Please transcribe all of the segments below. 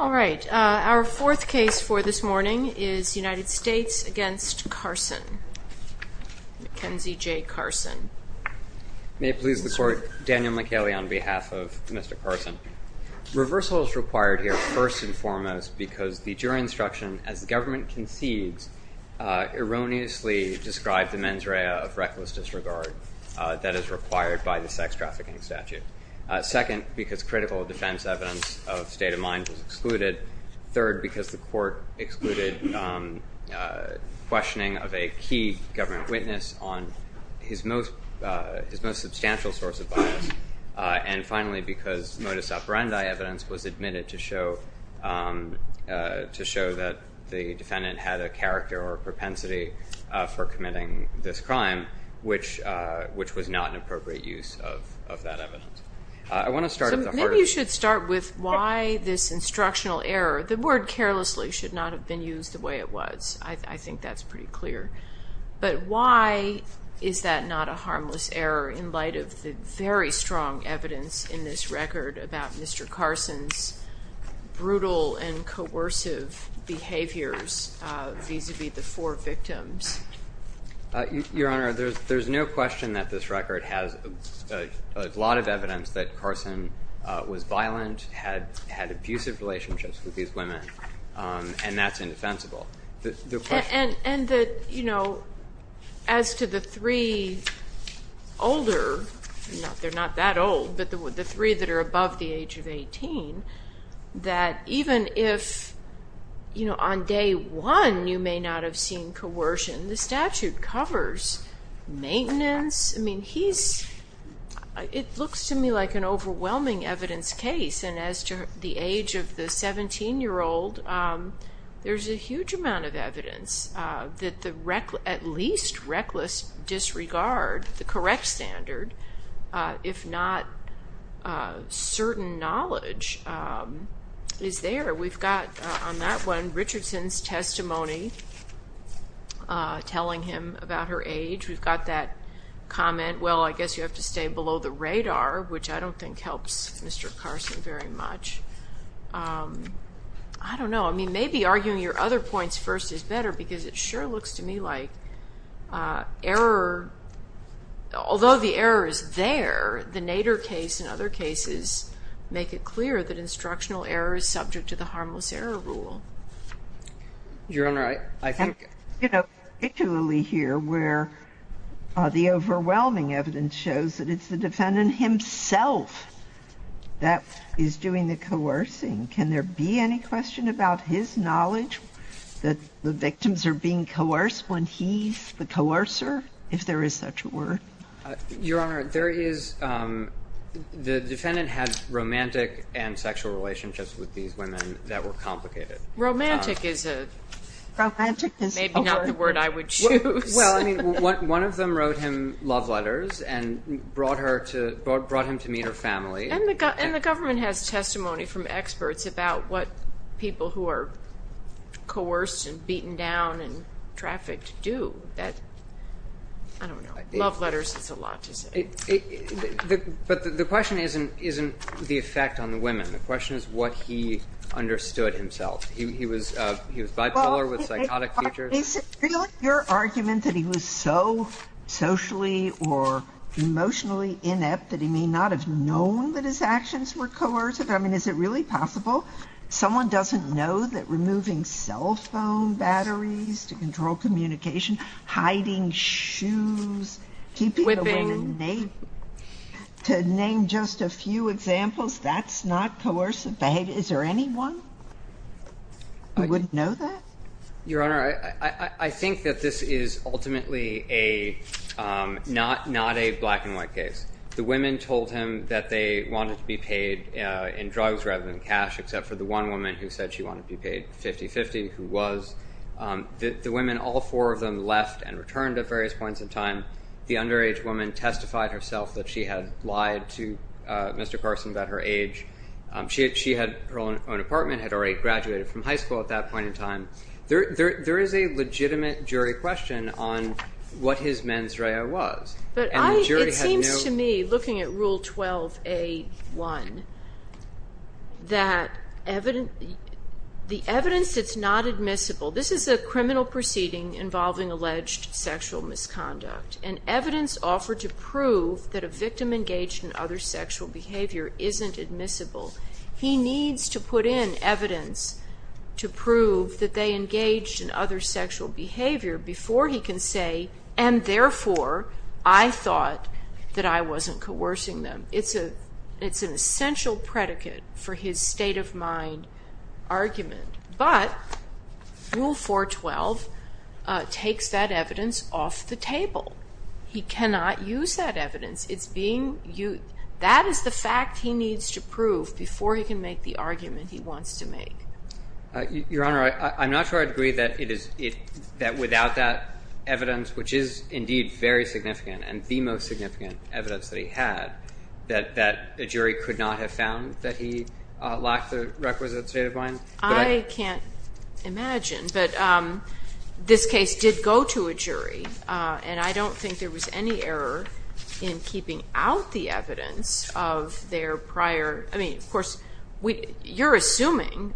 May it please the court, Daniel McKelvey on behalf of Mr. Carson. Reversal is required here first and foremost because the jury instruction, as the government concedes, erroneously described the mens rea of reckless disregard that is required by the sex trafficking statute. Second, because critical defense evidence of state of mind was excluded. Third, because the court excluded questioning of a key government witness on his most substantial source of bias. And finally, because modus operandi evidence was admitted to show that the defendant had a character or propensity for committing this crime, which was not an appropriate use of that evidence. So maybe you should start with why this instructional error, the word carelessly should not have been used the way it was. I think that's pretty clear. But why is that not a harmless error in light of the very strong evidence in this record about Mr. Carson's brutal and coercive behaviors vis-a-vis the four victims? Your Honor, there's no question that this record has a lot of evidence that Carson was violent, had abusive relationships with these women, and that's indefensible. And that, you know, as to the three older, they're not that old, but the three that are above the age of 18, that even if, you know, on day one you may not have seen coercion, the statute covers maintenance. I mean, he's, it looks to me like an overwhelming evidence case. And as to the age of the 17-year-old, there's a huge amount of evidence that at least reckless disregard, the correct standard, if not certain knowledge, is there. We've got on that one Richardson's testimony telling him about her age. We've got that comment, well, I guess you have to stay below the radar, which I don't think helps Mr. Carson very much. I don't know. I mean, maybe arguing your other points first is better because it sure looks to me like error, although the error is there, the Nader case and other cases make it clear that instructional error is subject to the harmless error rule. Your Honor, I think... You know, particularly here where the overwhelming evidence shows that it's the defendant himself that is doing the coercing. Can there be any question about his knowledge that the victims are being coerced when he's the coercer, if there is such a word? Your Honor, there is, the defendant has romantic and sexual relationships with these women that were complicated. Romantic is a... Romantic is a word. Maybe not the word I would choose. Well, I mean, one of them wrote him love letters and brought her to, brought him to meet her family. And the government has testimony from experts about what people who are coerced and beaten down and trafficked do. That, I don't know. Love letters is a lot to say. But the question isn't the effect on the women. The question is what he understood himself. He was bipolar with psychotic features. Is it your argument that he was so socially or emotionally inept that he may not have known that his actions were coercive? I mean, is it really possible? Someone doesn't know that removing cell phone batteries to control communication, hiding shoes... Whipping. To name just a few examples, that's not coercive behavior. Is there anyone who wouldn't know that? Your Honor, I think that this is ultimately a, not a black and white case. The women told him that they wanted to be paid in drugs rather than cash, except for the one woman who said she wanted to be paid 50-50, who was. The women, all four of them, left and returned at various points in time. The underage woman testified herself that she had lied to Mr. Carson about her age. She had her own apartment, had already graduated from high school at that point in time. There is a legitimate jury question on what his mens rea was. But I, it seems to me, looking at Rule 12A1, that the evidence that's not admissible, this is a criminal proceeding involving alleged sexual misconduct. And evidence offered to prove that a victim engaged in other sexual behavior isn't admissible. He needs to put in evidence to prove that they engaged in other sexual behavior before he can say, and therefore, I thought that I wasn't coercing them. It's an essential predicate for his state of mind argument. But Rule 412 takes that evidence off the table. He cannot use that evidence. It's being used. That is the fact he needs to prove before he can make the argument he wants to make. Your Honor, I'm not sure I agree that it is, that without that evidence, which is indeed very significant and the most significant evidence that he had, that a jury could not have found that he lacked the requisite state of mind. I can't imagine. But this case did go to a jury. And I don't think there was any error in keeping out the evidence of their prior, I mean, of course, you're assuming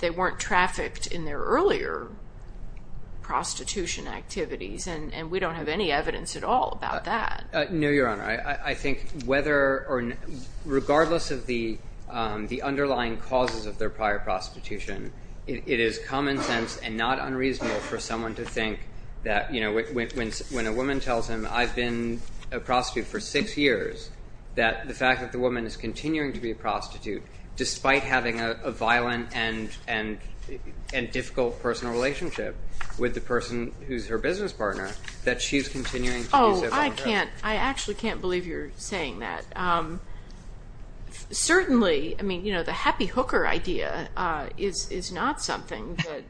they weren't trafficked in their earlier prostitution activities. And we don't have any evidence at all about that. No, Your Honor. I think whether or regardless of the underlying causes of their prior prostitution, it is common sense and not unreasonable for someone to think that, you know, when a woman tells him, I've been a prostitute for six years, that the fact that the woman is continuing to be a prostitute, despite having a violent and difficult personal relationship with the person who's her business partner, that she's continuing to be so vulnerable. I actually can't believe you're saying that. Certainly, I mean, you know, the happy hooker idea is not something that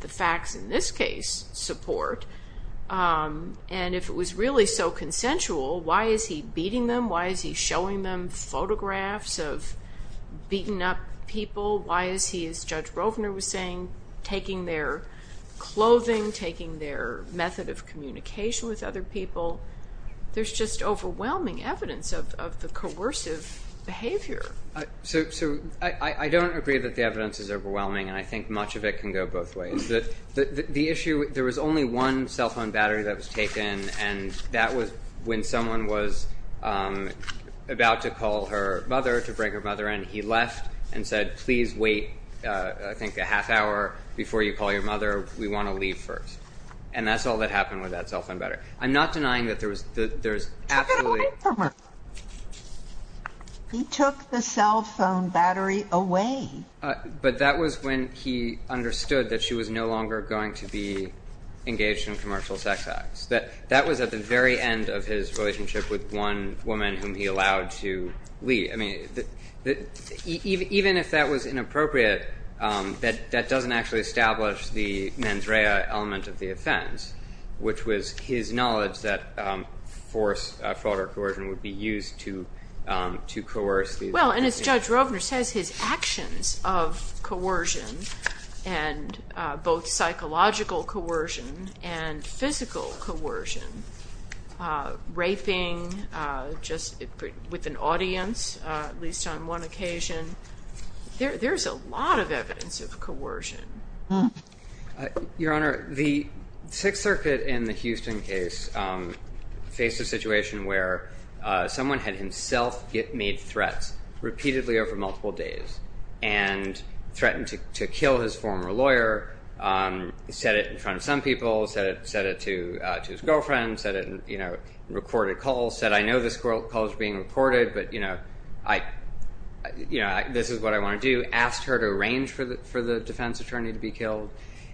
the facts in this case support. And if it was really so consensual, why is he beating them? Why is he showing them photographs of beaten up people? Why is he, as Judge Rovner was saying, taking their clothing, taking their method of communication with other people? There's just overwhelming evidence of the coercive behavior. So I don't agree that the evidence is overwhelming, and I think much of it can go both ways. The issue, there was only one cell phone battery that was taken, and that was when someone was about to call her mother to bring her mother in. He left and said, please wait, I think, a half hour before you call your mother. We want to leave first. And that's all that happened with that cell phone battery. I'm not denying that there was absolutely- He took it away from her. He took the cell phone battery away. But that was when he understood that she was no longer going to be engaged in commercial sex acts. That was at the very end of his relationship with one woman whom he allowed to leave. Even if that was inappropriate, that doesn't actually establish the mens rea element of the offense, which was his knowledge that force, fraud, or coercion would be used to coerce these- Well, and as Judge Rovner says, his actions of coercion, and both psychological coercion and physical coercion, raping just with an audience, at least on one occasion, there's a lot of evidence of coercion. Your Honor, the Sixth Circuit in the Houston case faced a situation where someone had himself made threats repeatedly over multiple days and threatened to kill his former lawyer, said it in front of some people, said it to his girlfriend, said it in recorded calls, said, I know these calls are being recorded, but this is what I want to do, asked her to arrange for the defense attorney to be killed.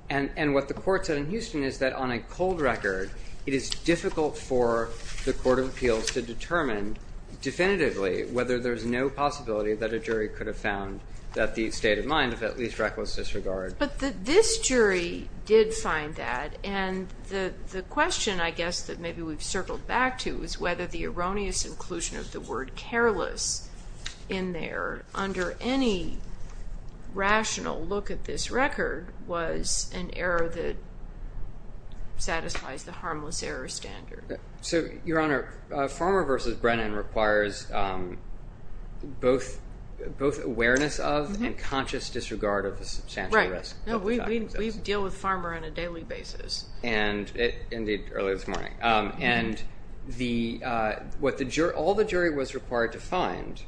And what the court said in Houston is that on a cold record, it is difficult for the Court of Appeals to determine definitively whether there's no possibility that a jury could have found that the state of mind of at least reckless disregard. But this jury did find that, and the question, I guess, that maybe we've circled back to is whether the erroneous inclusion of the word careless in there under any rational look at this record was an error that satisfies the harmless error standard. So, Your Honor, Farmer v. Brennan requires both awareness of and conscious disregard of the substantial risk. We deal with Farmer on a daily basis. Indeed, earlier this morning. And all the jury was required to find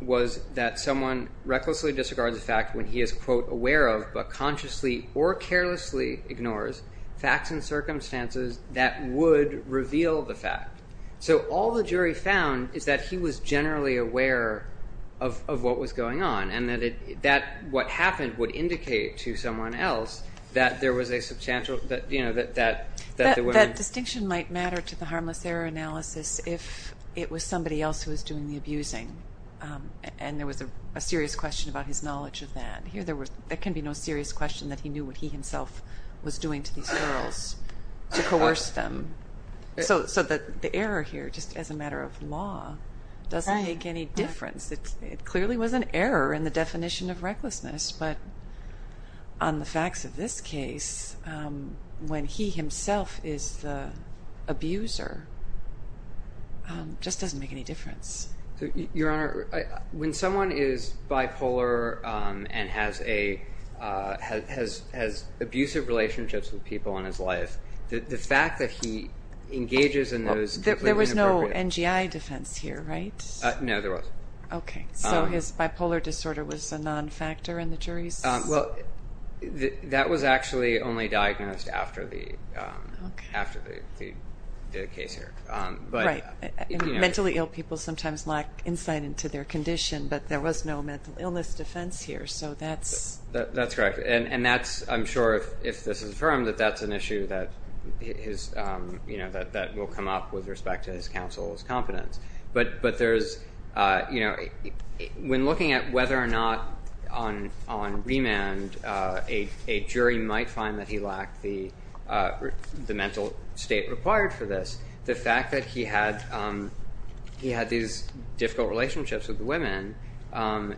was that someone recklessly disregards a fact when he is, quote, aware of but consciously or carelessly ignores facts and circumstances that would reveal the fact. So all the jury found is that he was generally aware of what was going on and that what happened would indicate to someone else that there was a substantial, you know, that there were. That distinction might matter to the harmless error analysis if it was somebody else who was doing the abusing and there was a serious question about his knowledge of that. There can be no serious question that he knew what he himself was doing to these girls to coerce them. So the error here, just as a matter of law, doesn't make any difference. It clearly was an error in the definition of recklessness. But on the facts of this case, when he himself is the abuser, just doesn't make any difference. Your Honor, when someone is bipolar and has abusive relationships with people in his life, the fact that he engages in those completely inappropriate- There was no NGI defense here, right? No, there wasn't. Okay. So his bipolar disorder was a non-factor in the jury's- Well, that was actually only diagnosed after the case here. Right. Mentally ill people sometimes lack insight into their condition, but there was no mental illness defense here, so that's- That's correct. And I'm sure if this is affirmed that that's an issue that will come up with respect to his counsel's competence. But when looking at whether or not on remand a jury might find that he lacked the mental state required for this, the fact that he had these difficult relationships with women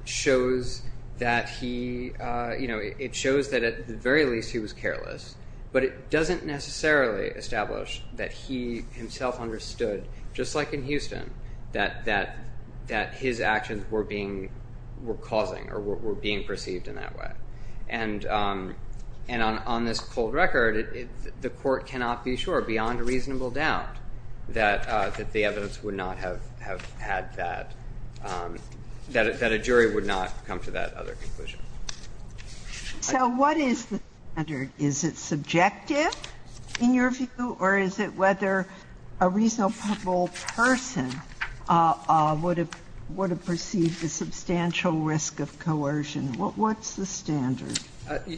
shows that he- It shows that at the very least, he was careless, but it doesn't necessarily establish that he himself understood, just like in Houston, that his actions were causing or were being perceived in that way. And on this cold record, the court cannot be sure, beyond a reasonable doubt, that the evidence would not have had that- that a jury would not come to that other conclusion. So what is the standard? Is it subjective in your view, or is it whether a reasonable person would have perceived the substantial risk of coercion? What's the standard?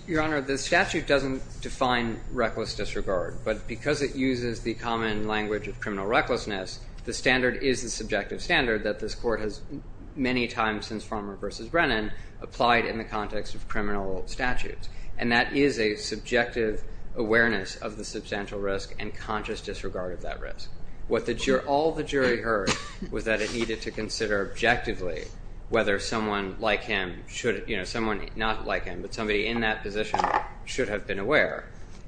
Your Honor, the statute doesn't define reckless disregard, but because it uses the common language of criminal recklessness, the standard is the subjective standard that this court has many times since Farmer v. Brennan applied in the context of criminal statutes. And that is a subjective awareness of the substantial risk and conscious disregard of that risk. All the jury heard was that it needed to consider objectively whether someone like him should- someone not like him, but somebody in that position should have been aware.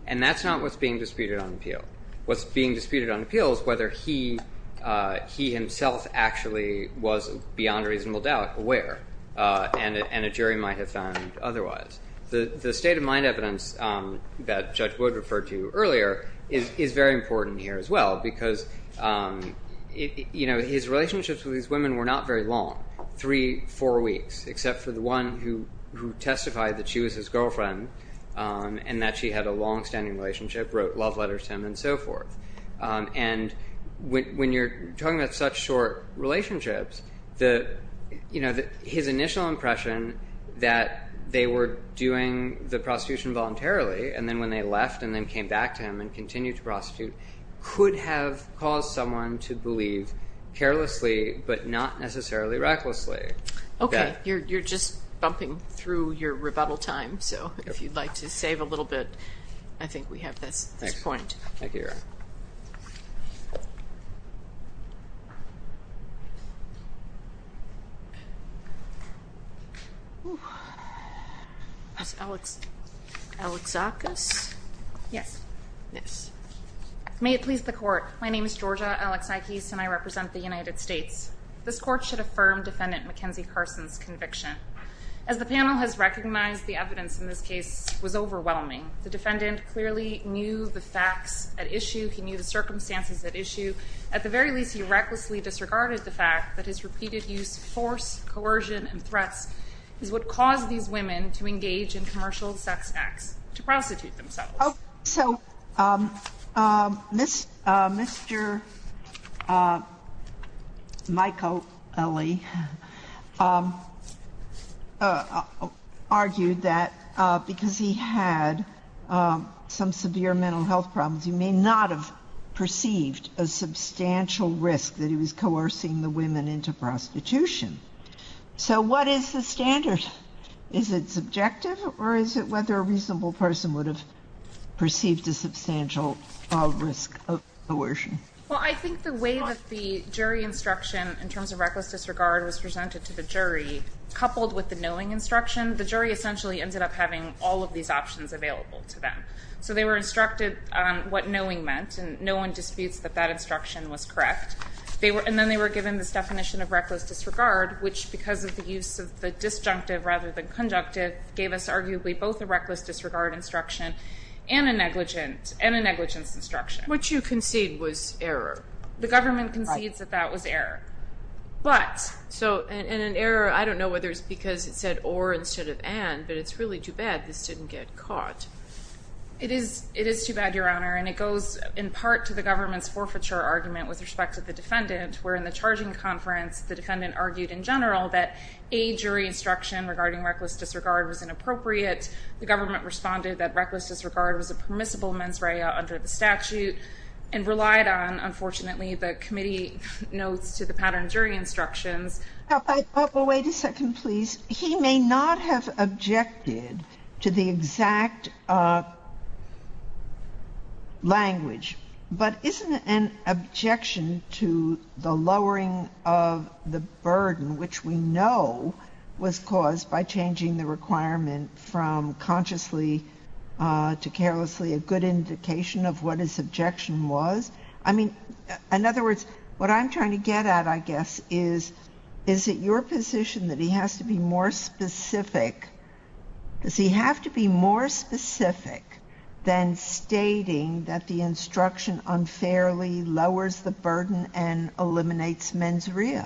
And that's not what's being disputed on appeal. What's being disputed on appeal is whether he himself actually was, beyond a reasonable doubt, aware, and a jury might have found otherwise. The state of mind evidence that Judge Wood referred to earlier is very important here as well, because, you know, his relationships with these women were not very long, three, four weeks, except for the one who testified that she was his girlfriend and that she had a longstanding relationship, wrote love letters to him, and so forth. And when you're talking about such short relationships, you know, his initial impression that they were doing the prostitution voluntarily and then when they left and then came back to him and continued to prostitute could have caused someone to believe carelessly but not necessarily recklessly. Okay. You're just bumping through your rebuttal time. So if you'd like to save a little bit, I think we have this point. Thank you, Your Honor. That's Alexakis? Yes. May it please the Court. My name is Georgia Alexakis, and I represent the United States. This Court should affirm Defendant Mackenzie Carson's conviction. As the panel has recognized the evidence in this case was overwhelming. The defendant clearly knew the facts at issue. He knew the circumstances at issue. At the very least, he recklessly disregarded the fact that his repeated use of force, coercion, and threats is what caused these women to engage in commercial sex acts, to prostitute themselves. Okay. So Mr. Michael Ellie argued that because he had some severe mental health problems, he may not have perceived a substantial risk that he was coercing the women into prostitution. So what is the standard? Is it subjective, or is it whether a reasonable person would have perceived a substantial risk of coercion? Well, I think the way that the jury instruction in terms of reckless disregard was presented to the jury, coupled with the knowing instruction, the jury essentially ended up having all of these options available to them. So they were instructed on what knowing meant, and no one disputes that that instruction was correct. And then they were given this definition of reckless disregard, which because of the use of the disjunctive rather than conductive, gave us arguably both a reckless disregard instruction and a negligence instruction. Which you concede was error. The government concedes that that was error. So an error, I don't know whether it's because it said or instead of and, but it's really too bad this didn't get caught. It is too bad, Your Honor. And it goes in part to the government's forfeiture argument with respect to the defendant, where in the charging conference the defendant argued in general that a jury instruction regarding reckless disregard was inappropriate. The government responded that reckless disregard was a permissible mens rea under the statute, and relied on, unfortunately, the committee notes to the pattern jury instructions. Wait a second, please. He may not have objected to the exact language, but isn't an objection to the lowering of the burden, which we know was caused by changing the requirement from consciously to carelessly a good indication of what his objection was? I mean, in other words, what I'm trying to get at, I guess, is, is it your position that he has to be more specific? Does he have to be more specific than stating that the instruction unfairly lowers the burden and eliminates mens rea?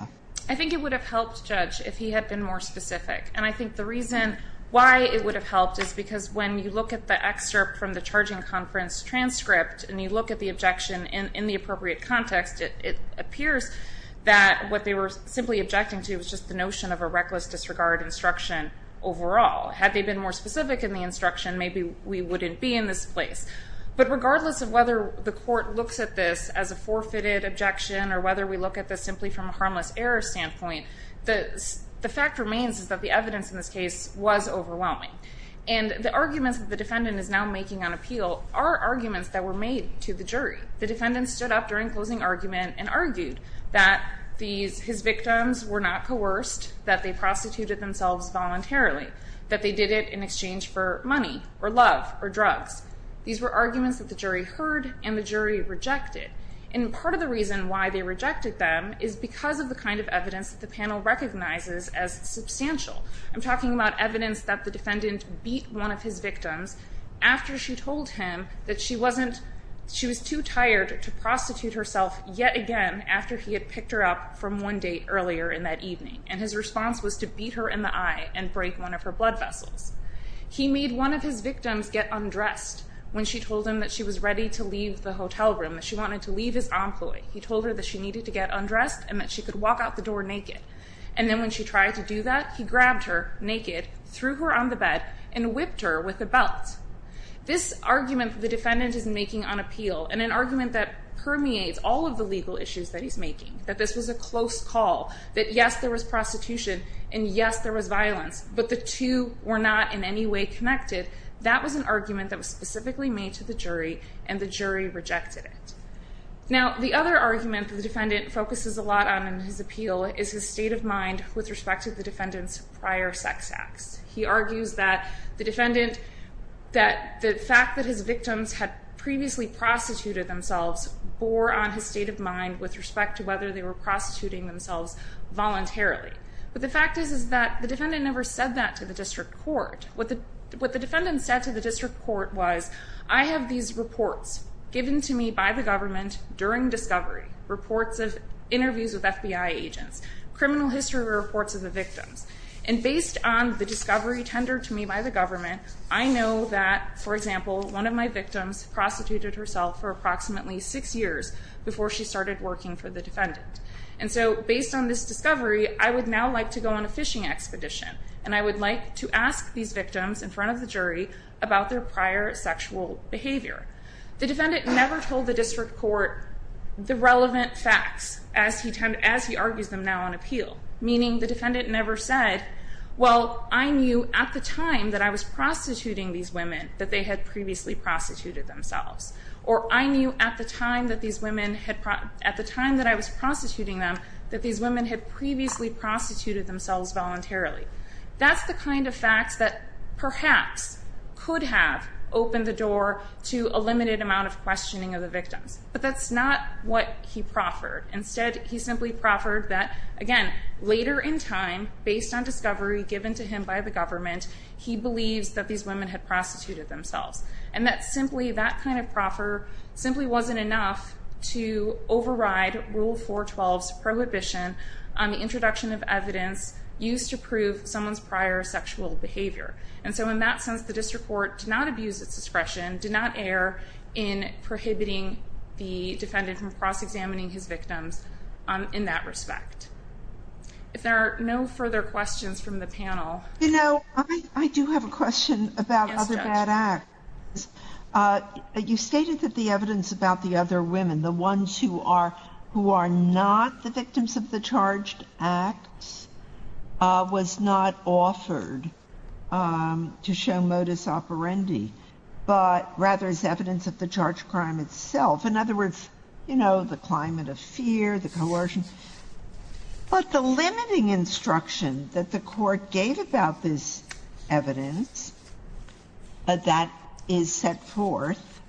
I think it would have helped, Judge, if he had been more specific. And I think the reason why it would have helped is because when you look at the excerpt from the charging conference transcript, and you look at the objection in the appropriate context, it appears that what they were simply objecting to was just the notion of a reckless disregard instruction overall. Had they been more specific in the instruction, maybe we wouldn't be in this place. But regardless of whether the court looks at this as a forfeited objection, or whether we look at this simply from a harmless error standpoint, the fact remains is that the evidence in this case was overwhelming. And the arguments that the defendant is now making on appeal are arguments that were made to the jury. The defendant stood up during closing argument and argued that his victims were not coerced, that they prostituted themselves voluntarily, that they did it in exchange for money or love or drugs. These were arguments that the jury heard and the jury rejected. And part of the reason why they rejected them is because of the kind of evidence that the panel recognizes as substantial. I'm talking about evidence that the defendant beat one of his victims after she told him that she was too tired to prostitute herself yet again after he had picked her up from one date earlier in that evening. And his response was to beat her in the eye and break one of her blood vessels. He made one of his victims get undressed when she told him that she was ready to leave the hotel room, that she wanted to leave his employ. He told her that she needed to get undressed and that she could walk out the door naked. And then when she tried to do that, he grabbed her naked, threw her on the bed, and whipped her with a belt. This argument that the defendant is making on appeal, and an argument that permeates all of the legal issues that he's making, that this was a close call, that yes, there was prostitution, and yes, there was violence, but the two were not in any way connected, that was an argument that was specifically made to the jury, and the jury rejected it. Now, the other argument that the defendant focuses a lot on in his appeal is his state of mind with respect to the defendant's prior sex acts. He argues that the fact that his victims had previously prostituted themselves bore on his state of mind with respect to whether they were prostituting themselves voluntarily. But the fact is that the defendant never said that to the district court. What the defendant said to the district court was, I have these reports given to me by the government during discovery, reports of interviews with FBI agents, criminal history reports of the victims, and based on the discovery tendered to me by the government, I know that, for example, one of my victims prostituted herself for approximately six years before she started working for the defendant. And so based on this discovery, I would now like to go on a fishing expedition, and I would like to ask these victims in front of the jury about their prior sexual behavior. The defendant never told the district court the relevant facts as he argues them now on appeal, meaning the defendant never said, well, I knew at the time that I was prostituting these women that they had previously prostituted themselves, or I knew at the time that I was prostituting them that these women had previously prostituted themselves voluntarily. That's the kind of facts that perhaps could have opened the door to a limited amount of questioning of the victims. But that's not what he proffered. Instead, he simply proffered that, again, later in time, based on discovery given to him by the government, he believes that these women had prostituted themselves, and that simply that kind of proffer simply wasn't enough to override Rule 412's prohibition on the introduction of evidence used to prove someone's prior sexual behavior. And so in that sense, the district court did not abuse its discretion, did not err in prohibiting the defendant from cross-examining his victims in that respect. You know, I do have a question about other bad acts. You stated that the evidence about the other women, the ones who are not the victims of the charged acts, was not offered to show modus operandi, but rather is evidence of the charged crime itself. In other words, you know, the climate of fear, the coercion. But the limiting instruction that the court gave about this evidence that is set forth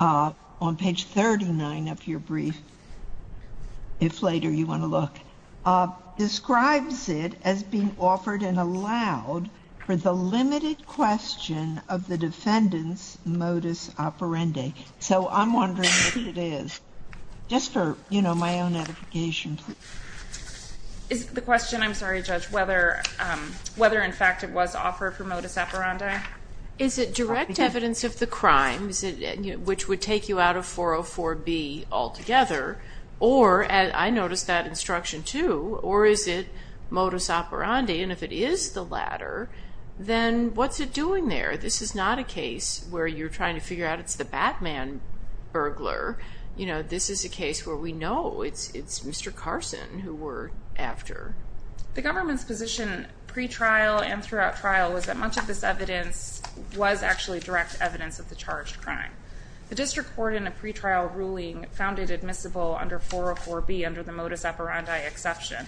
on page 39 of your brief, if later you want to look, describes it as being offered and allowed for the limited question of the defendant's modus operandi. So I'm wondering what it is. Just for, you know, my own edification. Is the question, I'm sorry, Judge, whether in fact it was offered for modus operandi? Is it direct evidence of the crime, which would take you out of 404B altogether? Or, and I noticed that instruction too, or is it modus operandi? And if it is the latter, then what's it doing there? This is not a case where you're trying to figure out it's the Batman burglar. You know, this is a case where we know it's Mr. Carson who we're after. The government's position pre-trial and throughout trial was that much of this evidence was actually direct evidence of the charged crime. The district court in a pre-trial ruling found it admissible under 404B under the modus operandi exception.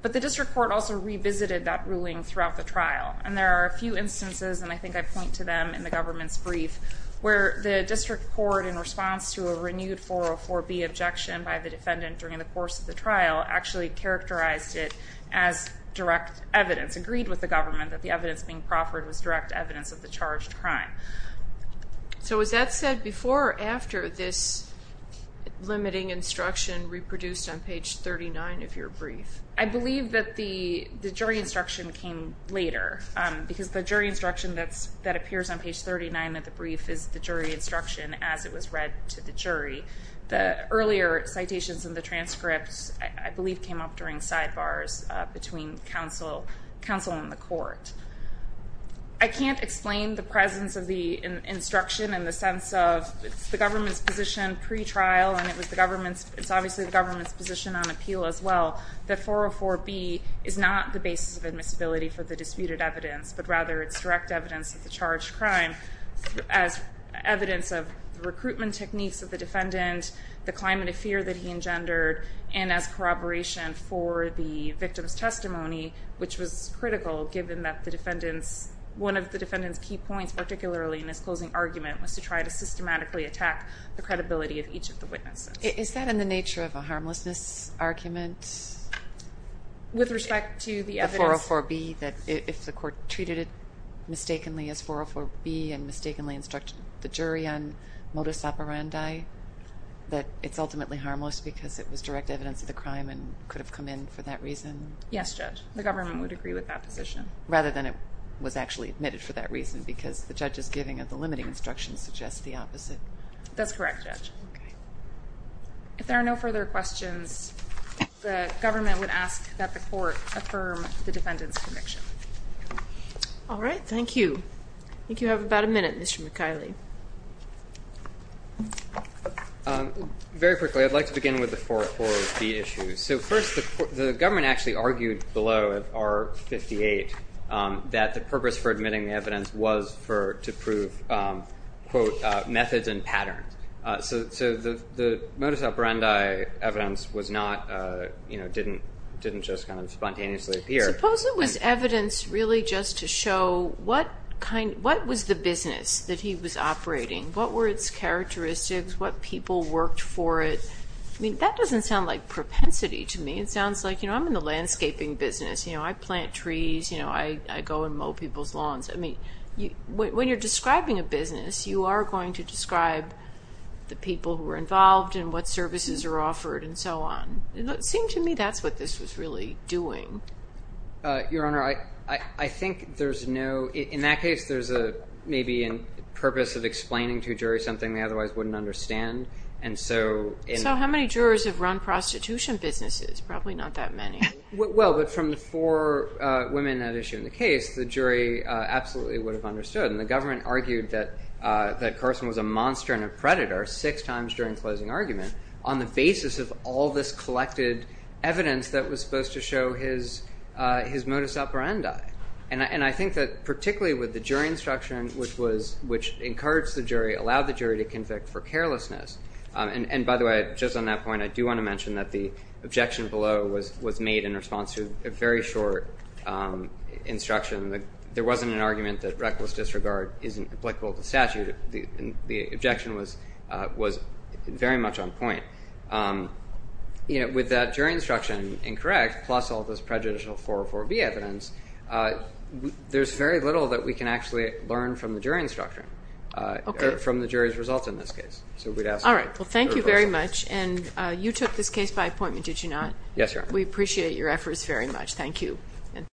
But the district court also revisited that ruling throughout the trial. And there are a few instances, and I think I point to them in the government's brief, where the district court in response to a renewed 404B objection by the defendant during the course of the trial actually characterized it as direct evidence, agreed with the government that the evidence being proffered was direct evidence of the charged crime. So was that said before or after this limiting instruction reproduced on page 39 of your brief? I believe that the jury instruction came later, because the jury instruction that appears on page 39 of the brief is the jury instruction as it was read to the jury. The earlier citations in the transcripts, I believe, came up during sidebars between counsel and the court. I can't explain the presence of the instruction in the sense of the government's position pre-trial, and it's obviously the government's position on appeal as well, that 404B is not the basis of admissibility for the disputed evidence, but rather it's direct evidence of the charged crime as evidence of the recruitment techniques of the defendant, the climate of fear that he engendered, and as corroboration for the victim's testimony, which was critical given that one of the defendant's key points, particularly in his closing argument, was to try to systematically attack the credibility of each of the witnesses. Is that in the nature of a harmlessness argument? With respect to the evidence? The 404B, that if the court treated it mistakenly as 404B and mistakenly instructed the jury on modus operandi, that it's ultimately harmless because it was direct evidence of the crime and could have come in for that reason? Yes, Judge. The government would agree with that position. Rather than it was actually admitted for that reason because the judge's giving of the limiting instructions suggests the opposite. That's correct, Judge. If there are no further questions, the government would ask that the court affirm the defendant's conviction. All right, thank you. I think you have about a minute, Mr. McKiley. Very quickly, I'd like to begin with the 404B issue. First, the government actually argued below of R58 that the purpose for admitting the evidence was to prove, quote, methods and patterns. So the modus operandi evidence didn't just spontaneously appear. Suppose it was evidence really just to show what was the business that he was operating. What were its characteristics? What people worked for it? That doesn't sound like propensity to me. It sounds like I'm in the landscaping business. I plant trees. I go and mow people's lawns. When you're describing a business, you are going to describe the people who were involved and what services are offered and so on. It seemed to me that's what this was really doing. Your Honor, I think there's no – in that case, there's maybe a purpose of explaining to a jury something they otherwise wouldn't understand. So how many jurors have run prostitution businesses? Probably not that many. Well, but from the four women that issued the case, the jury absolutely would have understood. And the government argued that Carson was a monster and a predator six times during closing argument on the basis of all this collected evidence that was supposed to show his modus operandi. And I think that particularly with the jury instruction, which encouraged the jury, allowed the jury to convict for carelessness. And by the way, just on that point, I do want to mention that the objection below was made in response to a very short instruction. There wasn't an argument that reckless disregard isn't applicable to statute. The objection was very much on point. With that jury instruction incorrect, plus all this prejudicial 404B evidence, there's very little that we can actually learn from the jury instruction, from the jury's results in this case. All right. Well, thank you very much. And you took this case by appointment, did you not? Yes, Your Honor. We appreciate your efforts very much. Thank you.